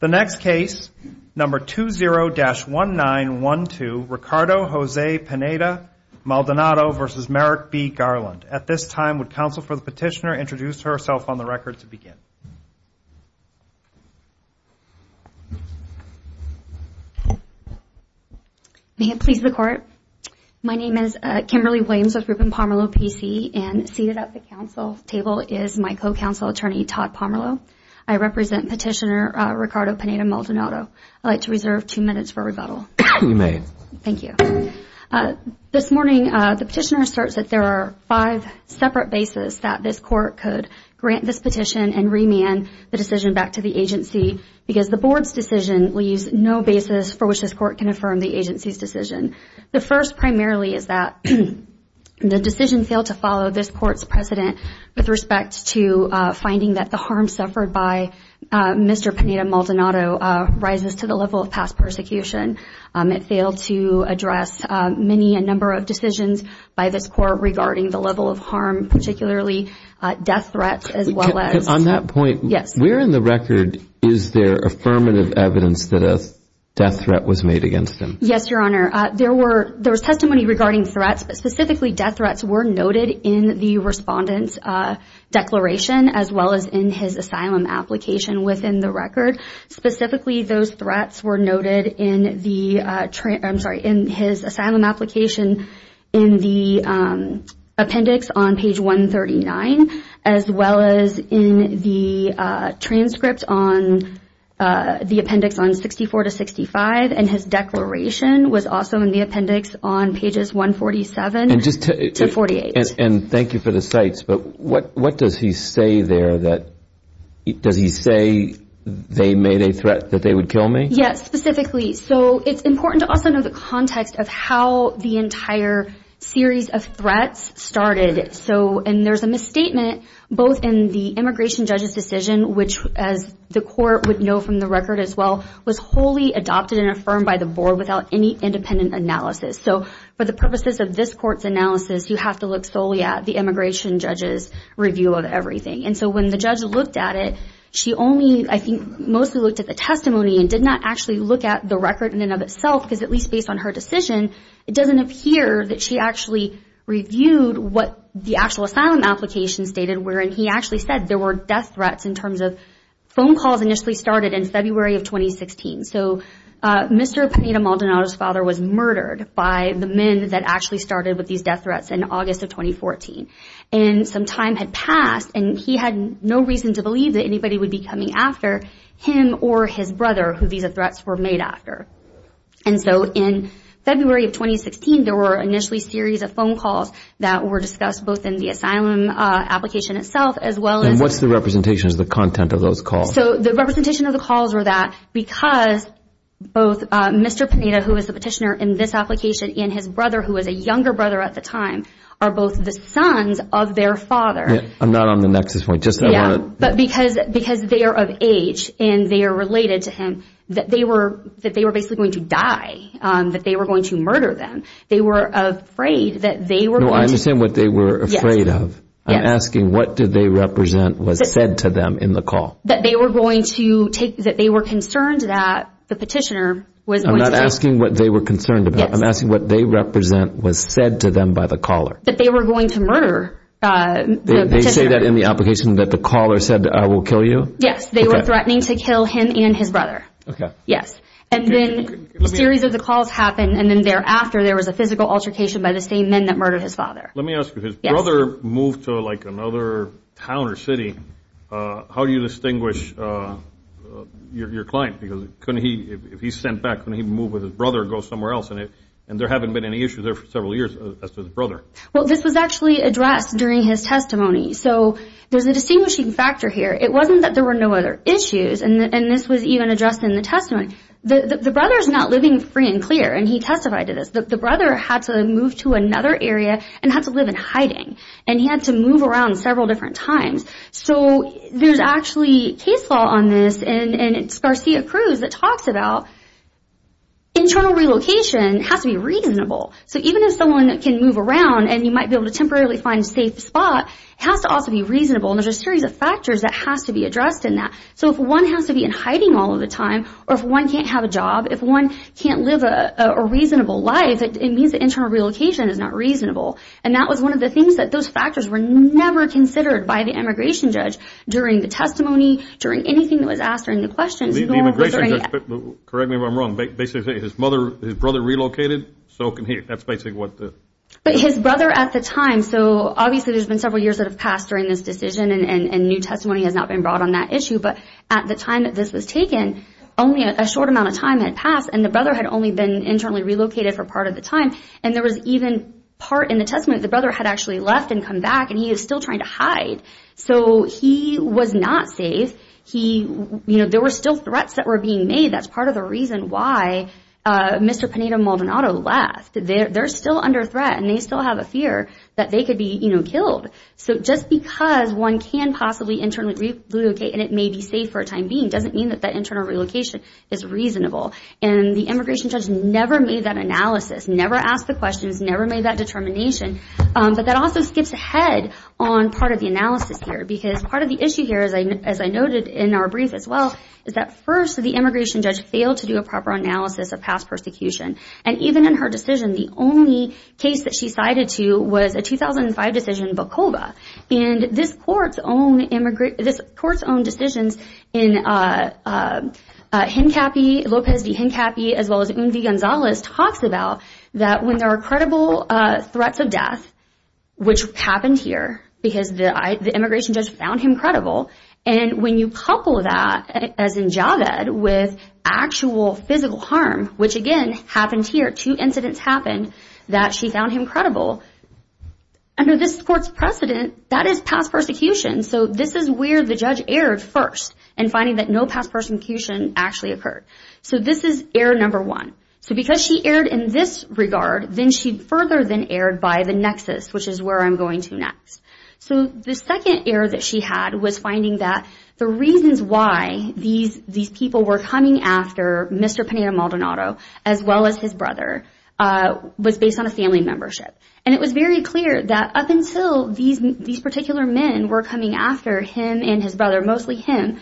The next case, number 20-1912, Ricardo Jose Pineda-Maldonado v. Merrick B. Garland. At this time, would counsel for the petitioner introduce herself on the record to begin? May it please the Court. My name is Kimberly Williams with Rubin-Pomerleau PC, and seated at the counsel table is my co-counsel, Attorney Todd Pomerleau. I represent Petitioner Ricardo Pineda-Maldonado. I'd like to reserve two minutes for rebuttal. You may. Thank you. This morning, the petitioner asserts that there are five separate bases that this Court could grant this petition and remand the decision back to the agency because the Board's decision leaves no basis for which this Court can affirm the agency's decision. The first primarily is that the decision failed to follow this Court's precedent with respect to finding that the harm suffered by Mr. Pineda-Maldonado rises to the level of past persecution. It failed to address many, a number of decisions by this Court regarding the level of harm, particularly death threats as well as- On that point, where in the record is there affirmative evidence that a death threat was made against him? Yes, Your Honor. There was testimony regarding threats, but specifically death threats were noted in the respondent's declaration as well as in his asylum application within the record. Specifically, those threats were noted in the- I'm sorry, in his asylum application in the appendix on page 139 as well as in the transcript on the appendix on 64 to 65, and his declaration was also in the appendix on pages 147 to 48. And thank you for the cites, but what does he say there that- does he say they made a threat that they would kill me? Yes, specifically. So it's important to also know the context of how the entire series of threats started. And there's a misstatement both in the immigration judge's decision, which as the Court would know from the record as well, was wholly adopted and affirmed by the Board without any independent analysis. So for the purposes of this Court's analysis, you have to look solely at the immigration judge's review of everything. And so when the judge looked at it, she only, I think, mostly looked at the testimony and did not actually look at the record in and of itself, because at least based on her decision, it doesn't appear that she actually reviewed what the actual asylum application stated, wherein he actually said there were death threats in terms of- phone calls initially started in February of 2016. So Mr. Pineda-Maldonado's father was murdered by the men that actually started with these death threats in August of 2014. And some time had passed, and he had no reason to believe that anybody would be coming after him or his brother who these threats were made after. And so in February of 2016, there were initially a series of phone calls that were discussed both in the asylum application itself as well as- And what's the representation of the content of those calls? So the representation of the calls were that because both Mr. Pineda, who was the petitioner in this application, and his brother, who was a younger brother at the time, are both the sons of their father- I'm not on the nexus point. Yeah, but because they are of age and they are related to him, that they were basically going to die, that they were going to murder them. They were afraid that they were going to- No, I understand what they were afraid of. I'm asking what did they represent was said to them in the call. That they were going to take- that they were concerned that the petitioner was going to- I'm not asking what they were concerned about. I'm asking what they represent was said to them by the caller. That they were going to murder the petitioner. They say that in the application that the caller said, I will kill you? Yes, they were threatening to kill him and his brother. Okay. Yes. And then a series of the calls happened, and then thereafter there was a physical altercation by the same men that murdered his father. Let me ask you. Yes. His brother moved to like another town or city. How do you distinguish your client? Because couldn't he, if he's sent back, couldn't he move with his brother and go somewhere else? And there haven't been any issues there for several years as to his brother. Well, this was actually addressed during his testimony. So there's a distinguishing factor here. It wasn't that there were no other issues, and this was even addressed in the testimony. The brother's not living free and clear, and he testified to this. The brother had to move to another area and had to live in hiding, and he had to move around several different times. So there's actually case law on this, and it's Garcia Cruz that talks about internal relocation has to be reasonable. So even if someone can move around and you might be able to temporarily find a safe spot, it has to also be reasonable, and there's a series of factors that has to be addressed in that. So if one has to be in hiding all of the time, or if one can't have a job, if one can't live a reasonable life, it means that internal relocation is not reasonable. And that was one of the things that those factors were never considered by the immigration judge during the testimony, during anything that was asked during the questions. The immigration judge, correct me if I'm wrong, basically his brother relocated, so can he. That's basically what the… But his brother at the time, so obviously there's been several years that have passed during this decision, and new testimony has not been brought on that issue, but at the time that this was taken, only a short amount of time had passed, and the brother had only been internally relocated for part of the time, and there was even part in the testimony that the brother had actually left and come back, and he was still trying to hide. So he was not safe. There were still threats that were being made. That's part of the reason why Mr. Pineda-Maldonado left. They're still under threat, and they still have a fear that they could be killed. So just because one can possibly internally relocate and it may be safe for a time being doesn't mean that that internal relocation is reasonable, and the immigration judge never made that analysis, never asked the questions, never made that determination, but that also skips ahead on part of the analysis here because part of the issue here, as I noted in our brief as well, is that first the immigration judge failed to do a proper analysis of past persecution, and even in her decision, the only case that she cited to was a 2005 decision in Bokova. And this Court's own decisions in Lopez v. Hincapie as well as Un V. Gonzales talks about that when there are credible threats of death, which happened here because the immigration judge found him credible, and when you couple that, as in JAGAD, with actual physical harm, which again happened here, two incidents happened, that she found him credible. Under this Court's precedent, that is past persecution, so this is where the judge erred first in finding that no past persecution actually occurred. So this is error number one. So because she erred in this regard, then she further then erred by the nexus, which is where I'm going to next. So the second error that she had was finding that the reasons why these people were coming after Mr. Pena Maldonado as well as his brother was based on a family membership. And it was very clear that up until these particular men were coming after him and his brother, mostly him,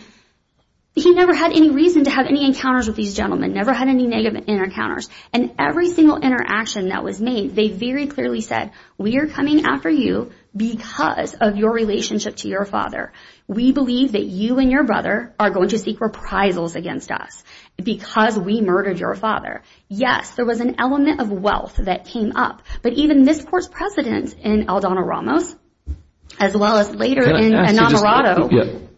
he never had any reason to have any encounters with these gentlemen, never had any negative encounters. And every single interaction that was made, they very clearly said, we are coming after you because of your relationship to your father. We believe that you and your brother are going to seek reprisals against us because we murdered your father. Yes, there was an element of wealth that came up, but even this Court's precedent in Aldona Ramos as well as later in Maldonado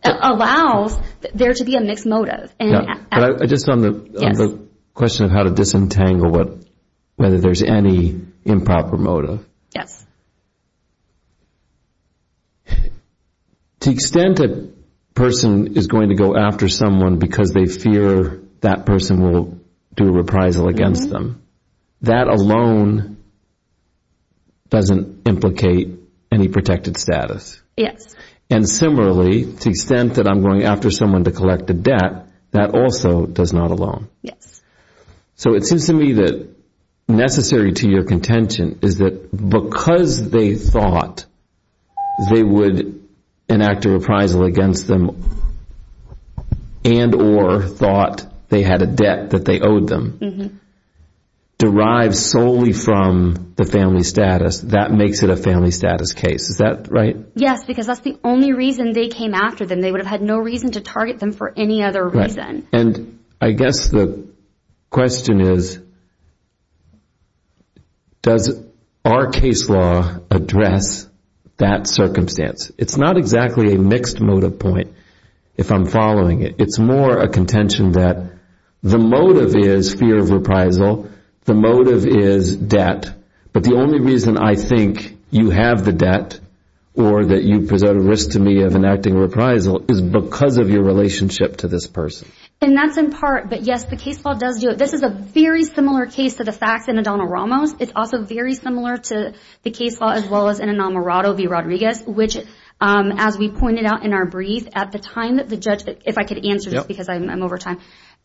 allows there to be a mixed motive. But just on the question of how to disentangle whether there's any improper motive. Yes. To the extent a person is going to go after someone because they fear that person will do a reprisal against them, that alone doesn't implicate any protected status. Yes. And similarly, to the extent that I'm going after someone to collect a debt, that also does not alone. Yes. So it seems to me that necessary to your contention is that because they thought they would enact a reprisal against them and or thought they had a debt that they owed them, derived solely from the family status, that makes it a family status case. Is that right? Yes, because that's the only reason they came after them. They would have had no reason to target them for any other reason. And I guess the question is, does our case law address that circumstance? It's not exactly a mixed motive point if I'm following it. It's more a contention that the motive is fear of reprisal. The motive is debt. But the only reason I think you have the debt or that you present a risk to me of enacting a reprisal is because of your relationship to this person. And that's in part. But, yes, the case law does do it. This is a very similar case to the facts in O'Donnell-Ramos. It's also very similar to the case law as well as in Enamorado v. Rodriguez, which, as we pointed out in our brief at the time that the judge, if I could answer this because I'm over time,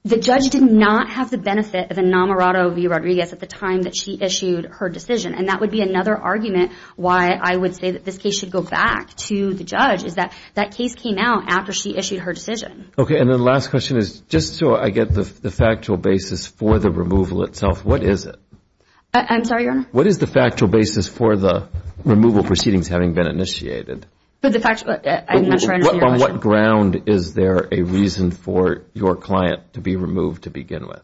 the judge did not have the benefit of Enamorado v. Rodriguez at the time that she issued her decision. And that would be another argument why I would say that this case should go back to the judge is that that case came out after she issued her decision. Okay. And the last question is, just so I get the factual basis for the removal itself, what is it? I'm sorry, Your Honor? What is the factual basis for the removal proceedings having been initiated? I'm not sure I understand your question. On what ground is there a reason for your client to be removed to begin with?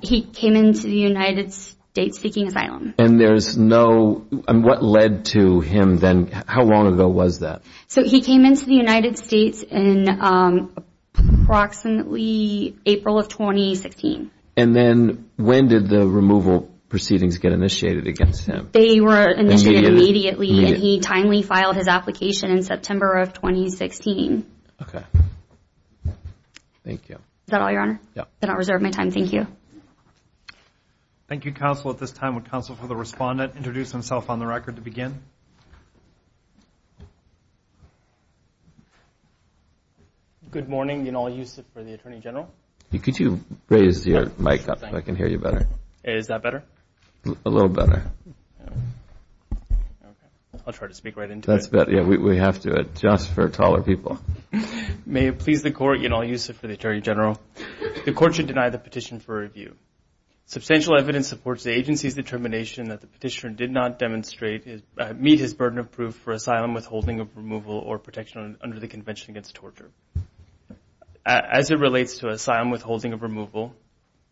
He came into the United States seeking asylum. And what led to him then? How long ago was that? So he came into the United States in approximately April of 2016. And then when did the removal proceedings get initiated against him? They were initiated immediately, and he timely filed his application in September of 2016. Okay. Thank you. Is that all, Your Honor? Yep. Then I'll reserve my time. Thank you. Thank you, counsel. At this time, would counsel for the respondent introduce himself on the record to begin? Good morning. Yanal Yusuf for the Attorney General. Could you raise your mic up so I can hear you better? Is that better? A little better. Okay. I'll try to speak right into it. That's better. We have to adjust for taller people. May it please the Court, Yanal Yusuf for the Attorney General. The Court should deny the petition for review. Substantial evidence supports the agency's determination that the petitioner did not meet his burden of proof for asylum withholding of removal or protection under the Convention Against Torture. As it relates to asylum withholding of removal,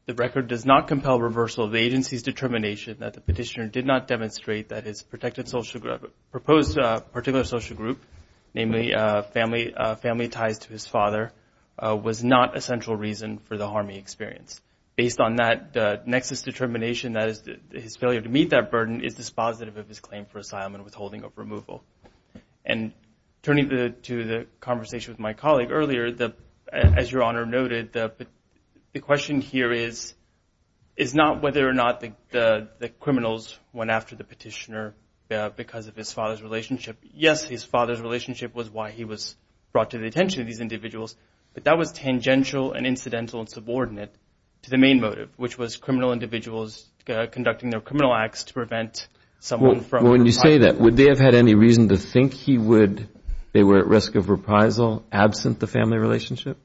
the record does not compel reversal of the agency's determination that the petitioner did not demonstrate that his proposed particular social group, namely family ties to his father, was not a central reason for the harming experience. Based on that nexus determination, that is his failure to meet that burden is dispositive of his claim for asylum and withholding of removal. And turning to the conversation with my colleague earlier, as Your Honor noted, the question here is not whether or not the criminals went after the petitioner because of his father's relationship. Yes, his father's relationship was why he was brought to the attention of these individuals, but that was tangential and incidental and subordinate to the main motive, which was criminal individuals conducting their criminal acts to prevent someone from reprisal. Well, when you say that, would they have had any reason to think he would, they were at risk of reprisal absent the family relationship?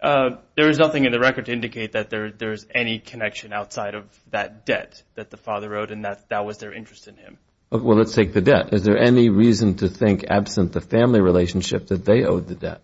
There is nothing in the record to indicate that there is any connection outside of that debt that the father owed and that that was their interest in him. Well, let's take the debt. Is there any reason to think absent the family relationship that they owed the debt?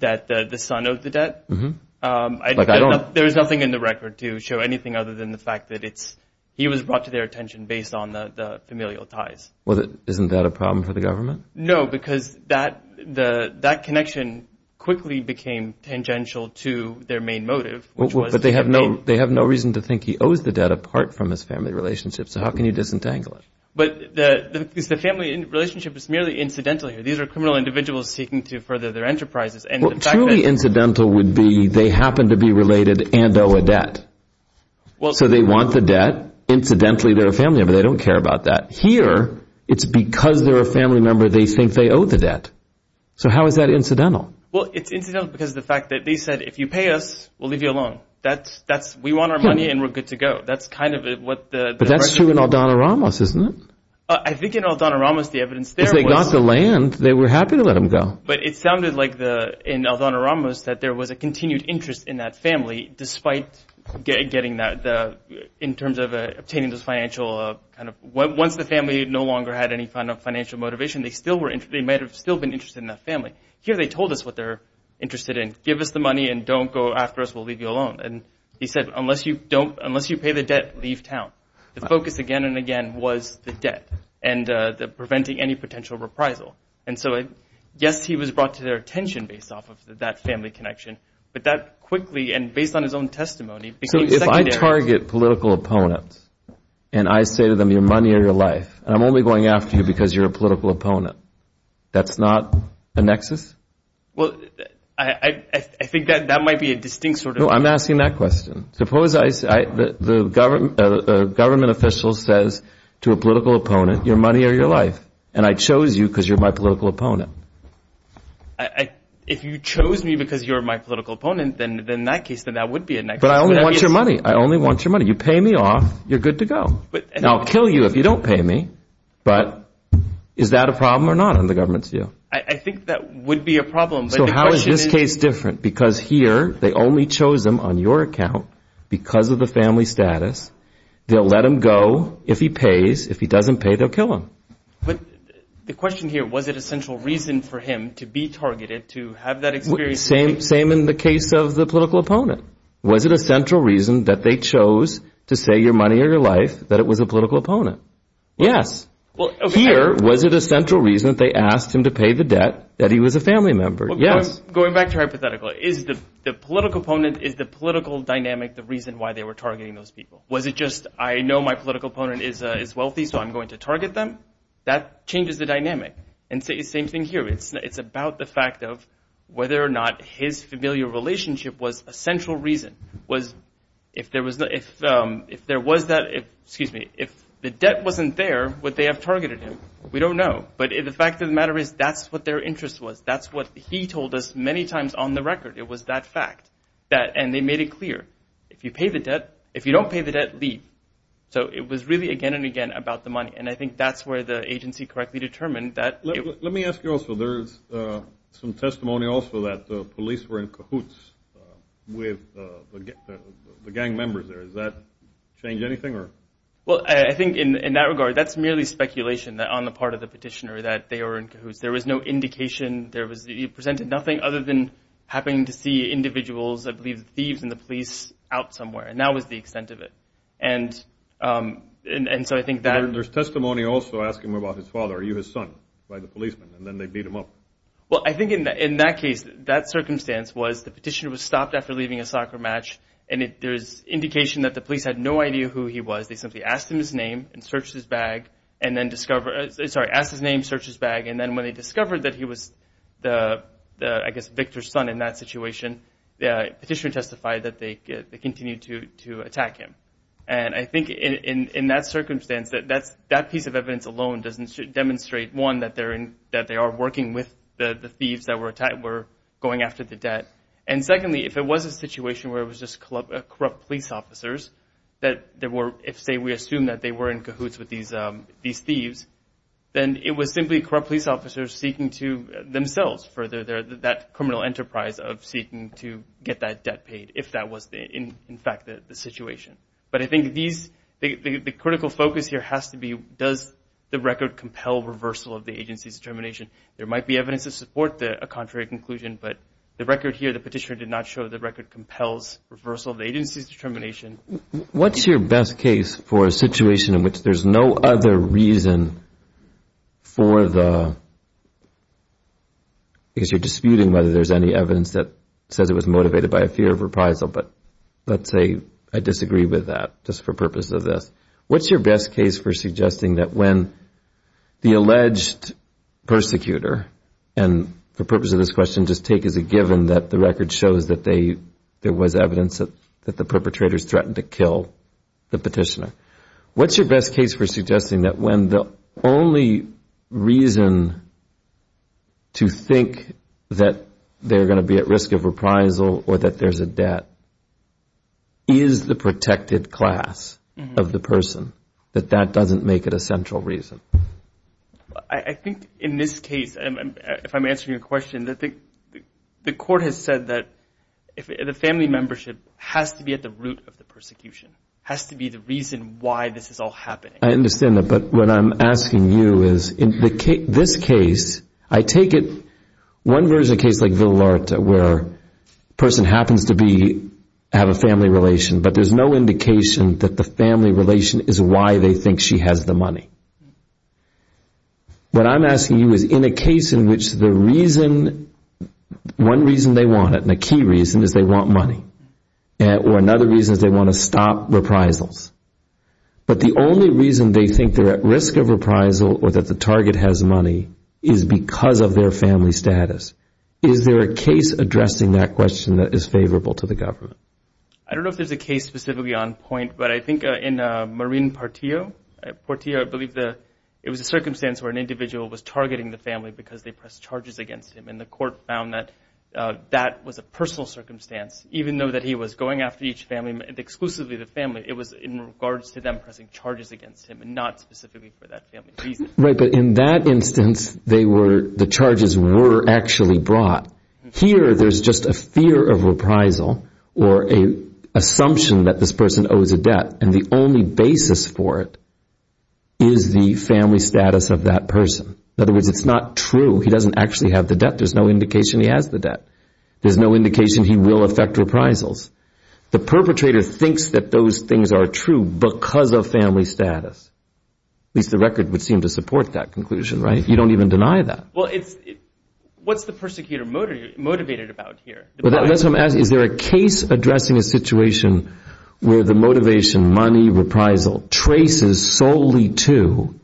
That the son owed the debt? There is nothing in the record to show anything other than the fact that it's, he was brought to their attention based on the familial ties. Well, isn't that a problem for the government? No, because that connection quickly became tangential to their main motive. But they have no reason to think he owes the debt apart from his family relationship, so how can you disentangle it? But the family relationship is merely incidental here. These are criminal individuals seeking to further their enterprises. Well, truly incidental would be they happen to be related and owe a debt. So they want the debt. Incidentally, they're a family member. They don't care about that. Here, it's because they're a family member they think they owe the debt. So how is that incidental? Well, it's incidental because of the fact that they said, if you pay us, we'll leave you alone. We want our money and we're good to go. That's kind of what the question is. But that's true in Aldona Ramos, isn't it? I think in Aldona Ramos the evidence there was. Because they got the land. They were happy to let him go. But it sounded like in Aldona Ramos that there was a continued interest in that family despite getting that in terms of obtaining this financial kind of, once the family no longer had any financial motivation, they might have still been interested in that family. Here they told us what they're interested in. Give us the money and don't go after us. We'll leave you alone. And he said, unless you pay the debt, leave town. The focus again and again was the debt and preventing any potential reprisal. And so, yes, he was brought to their attention based off of that family connection, but that quickly and based on his own testimony became secondary. So if I target political opponents and I say to them, your money or your life, and I'm only going after you because you're a political opponent, that's not a nexus? Well, I think that might be a distinct sort of. I'm asking that question. The government official says to a political opponent, your money or your life, and I chose you because you're my political opponent. If you chose me because you're my political opponent, then in that case, then that would be a nexus. But I only want your money. I only want your money. You pay me off, you're good to go. And I'll kill you if you don't pay me, but is that a problem or not in the government's view? I think that would be a problem. So how is this case different? Because here they only chose him on your account because of the family status. They'll let him go if he pays. If he doesn't pay, they'll kill him. But the question here, was it a central reason for him to be targeted to have that experience? Same in the case of the political opponent. Was it a central reason that they chose to say your money or your life that it was a political opponent? Yes. Here, was it a central reason that they asked him to pay the debt that he was a family member? Yes. Going back to hypothetical, is the political opponent, is the political dynamic the reason why they were targeting those people? Was it just I know my political opponent is wealthy, so I'm going to target them? That changes the dynamic. And same thing here. It's about the fact of whether or not his familial relationship was a central reason. If there was that, excuse me, if the debt wasn't there, would they have targeted him? We don't know. But the fact of the matter is that's what their interest was. That's what he told us many times on the record. It was that fact. And they made it clear. If you pay the debt, if you don't pay the debt, leave. So it was really again and again about the money. And I think that's where the agency correctly determined that. Let me ask you also, there's some testimony also that the police were in cahoots with the gang members there. Does that change anything? Well, I think in that regard, that's merely speculation on the part of the petitioner that they were in cahoots. There was no indication. He presented nothing other than happening to see individuals, I believe thieves in the police, out somewhere. And that was the extent of it. And so I think that – The petitioner's testimony also asked him about his father. Are you his son? By the policeman. And then they beat him up. Well, I think in that case, that circumstance was the petitioner was stopped after leaving a soccer match, and there's indication that the police had no idea who he was. They simply asked him his name and searched his bag and then discovered – sorry, asked his name, searched his bag. And then when they discovered that he was the, I guess, Victor's son in that situation, the petitioner testified that they continued to attack him. And I think in that circumstance, that piece of evidence alone doesn't demonstrate, one, that they are working with the thieves that were going after the debt. And secondly, if it was a situation where it was just corrupt police officers, that there were – if, say, we assume that they were in cahoots with these thieves, then it was simply corrupt police officers seeking to themselves for that criminal enterprise of seeking to get that debt paid, if that was, in fact, the situation. But I think these – the critical focus here has to be does the record compel reversal of the agency's determination. There might be evidence to support a contrary conclusion, but the record here, the petitioner did not show the record compels reversal of the agency's determination. What's your best case for a situation in which there's no other reason for the – let's say I disagree with that just for purpose of this. What's your best case for suggesting that when the alleged persecutor, and for purpose of this question, just take as a given that the record shows that they – there was evidence that the perpetrators threatened to kill the petitioner. What's your best case for suggesting that when the only reason to think that they're going to be at risk of reprisal or that there's a debt is the protected class of the person, that that doesn't make it a central reason? I think in this case, if I'm answering your question, the court has said that the family membership has to be at the root of the persecution, has to be the reason why this is all happening. I understand that, but what I'm asking you is in this case, I take it – one version of a case like Villalarta where a person happens to be – have a family relation, but there's no indication that the family relation is why they think she has the money. What I'm asking you is in a case in which the reason – one reason they want it, and a key reason is they want money, or another reason is they want to stop reprisals, but the only reason they think they're at risk of reprisal or that the target has money is because of their family status. Is there a case addressing that question that is favorable to the government? I don't know if there's a case specifically on point, but I think in Marin Portillo, I believe it was a circumstance where an individual was targeting the family because they pressed charges against him, and the court found that that was a personal circumstance. Even though that he was going after each family, exclusively the family, it was in regards to them pressing charges against him and not specifically for that family reason. Right, but in that instance, they were – the charges were actually brought. Here, there's just a fear of reprisal or an assumption that this person owes a debt, and the only basis for it is the family status of that person. In other words, it's not true. He doesn't actually have the debt. There's no indication he has the debt. There's no indication he will affect reprisals. The perpetrator thinks that those things are true because of family status. At least the record would seem to support that conclusion, right? You don't even deny that. Well, it's – what's the persecutor motivated about here? Is there a case addressing a situation where the motivation, money, reprisal, traces solely to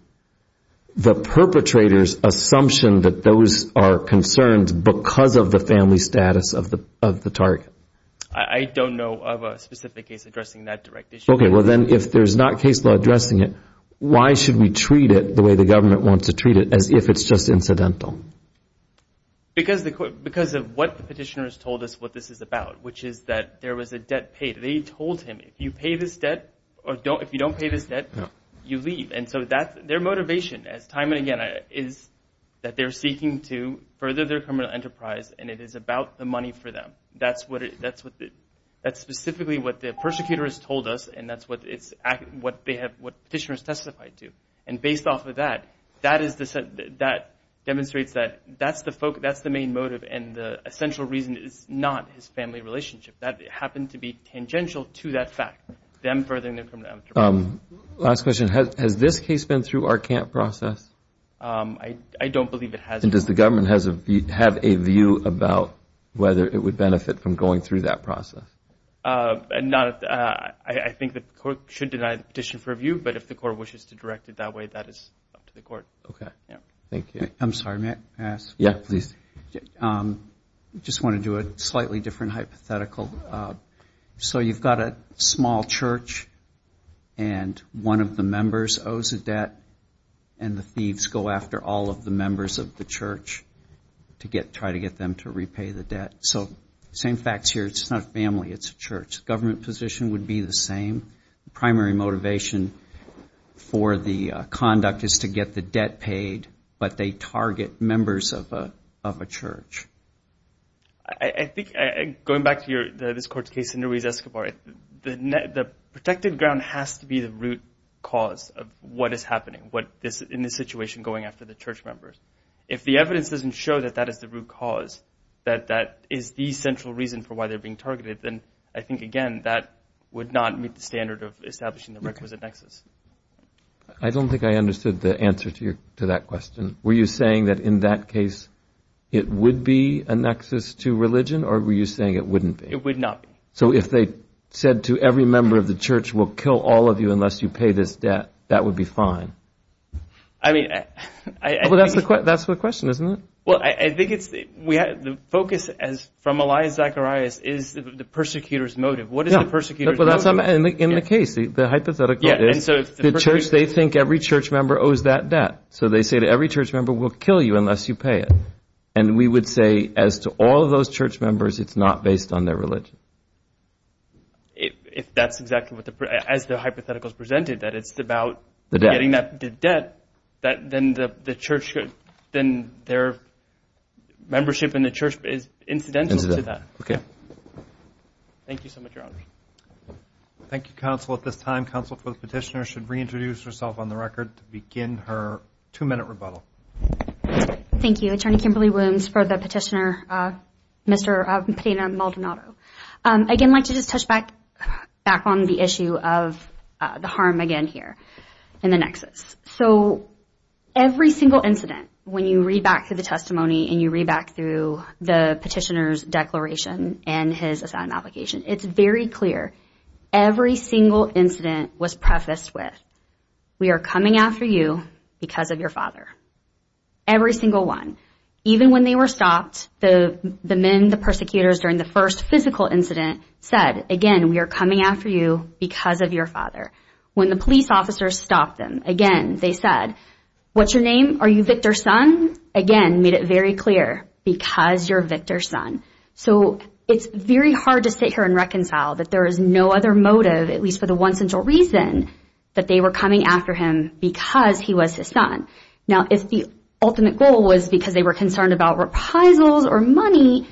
the perpetrator's assumption that those are concerns because of the family status of the target? I don't know of a specific case addressing that direct issue. Okay, well, then if there's not case law addressing it, why should we treat it the way the government wants to treat it as if it's just incidental? Because of what the petitioners told us what this is about, which is that there was a debt paid. They told him, if you pay this debt or if you don't pay this debt, you leave. And so that's – their motivation, time and again, is that they're seeking to further their criminal enterprise, and it is about the money for them. That's what – that's specifically what the persecutor has told us, and that's what it's – what they have – what petitioners testified to. And based off of that, that is – that demonstrates that that's the main motive, and the essential reason is not his family relationship. That happened to be tangential to that fact, them furthering their criminal enterprise. Last question. Has this case been through our CAMP process? I don't believe it has. And does the government have a view about whether it would benefit from going through that process? Not – I think the court should deny the petition for review, but if the court wishes to direct it that way, that is up to the court. Okay. Thank you. I'm sorry, may I ask? Yeah, please. I just want to do a slightly different hypothetical. So you've got a small church, and one of the members owes a debt, and the thieves go after all of the members of the church to try to get them to repay the debt. So same facts here. It's not a family. It's a church. Government position would be the same. The primary motivation for the conduct is to get the debt paid, but they target members of a church. I think – going back to this court's case, Senator Ruiz-Escobar, the protected ground has to be the root cause of what is happening, what is in this situation going after the church members. If the evidence doesn't show that that is the root cause, that that is the central reason for why they're being targeted, then I think, again, that would not meet the standard of establishing the requisite nexus. I don't think I understood the answer to that question. Were you saying that in that case it would be a nexus to religion, or were you saying it wouldn't be? It would not be. So if they said to every member of the church, we'll kill all of you unless you pay this debt, that would be fine? I mean – Well, that's the question, isn't it? Well, I think it's – the focus from Elias Zacharias is the persecutor's motive. What is the persecutor's motive? In the case, the hypothetical is the church, they think every church member owes that debt. So they say to every church member, we'll kill you unless you pay it. And we would say as to all of those church members, it's not based on their religion. If that's exactly what the – as the hypothetical is presented, that it's about getting that debt, then the church – then their membership in the church is incidental to that. Okay. Thank you so much, Your Honor. Thank you, counsel. At this time, counsel for the petitioner should reintroduce herself on the record to begin her two-minute rebuttal. Thank you. Attorney Kimberly Williams for the petitioner, Mr. Pena Maldonado. Again, I'd like to just touch back on the issue of the harm, again, here in the nexus. So every single incident, when you read back through the testimony and you read back through the petitioner's declaration and his assignment application, it's very clear every single incident was prefaced with, we are coming after you because of your father. Every single one. Even when they were stopped, the men, the persecutors, during the first physical incident said, again, we are coming after you because of your father. When the police officers stopped them, again, they said, what's your name? Are you Victor's son? Again, made it very clear, because you're Victor's son. So it's very hard to sit here and reconcile that there is no other motive, at least for the one central reason, that they were coming after him because he was his son. Now, if the ultimate goal was because they were concerned about reprisals or money,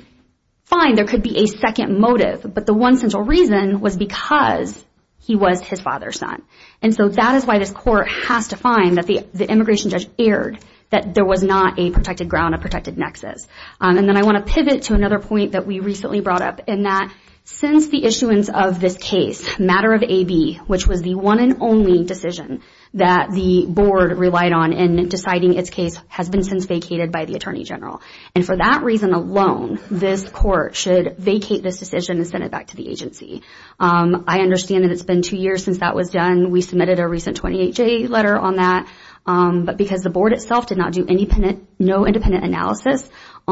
fine, there could be a second motive, but the one central reason was because he was his father's son. And so that is why this Court has to find that the immigration judge erred, that there was not a protected ground, a protected nexus. And then I want to pivot to another point that we recently brought up, and that since the issuance of this case, matter of AB, which was the one and only decision that the Board relied on in deciding its case, has been since vacated by the Attorney General. And for that reason alone, this Court should vacate this decision and send it back to the agency. I understand that it's been two years since that was done. We submitted a recent 28-J letter on that. But because the Board itself did not do any independent,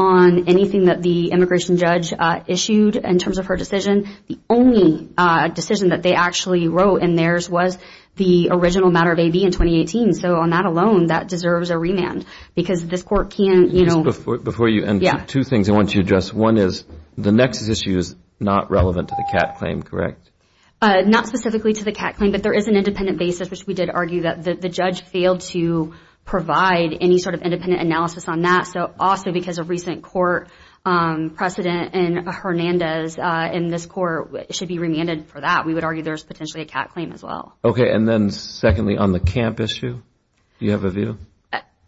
on anything that the immigration judge issued in terms of her decision, the only decision that they actually wrote in theirs was the original matter of AB in 2018. So on that alone, that deserves a remand because this Court can't, you know. Before you end, two things I want you to address. One is the nexus issue is not relevant to the Catt claim, correct? Not specifically to the Catt claim, but there is an independent basis, which we did argue that the judge failed to provide any sort of independent analysis on that. So also because of recent court precedent in Hernandez in this Court, it should be remanded for that. We would argue there's potentially a Catt claim as well. Okay. And then secondly, on the camp issue, do you have a view?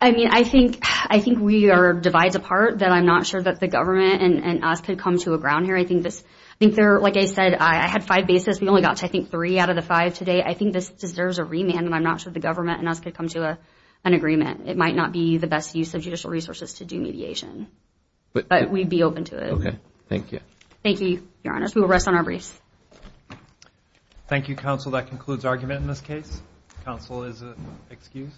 I mean, I think we are divides apart, that I'm not sure that the government and us could come to a ground here. I think there, like I said, I had five bases. We only got to, I think, three out of the five today. I think this deserves a remand, and I'm not sure the government and us could come to an agreement. It might not be the best use of judicial resources to do mediation, but we'd be open to it. Okay. Thank you. Thank you, Your Honor. We will rest on our briefs. Thank you, counsel. That concludes argument in this case. Counsel is excused.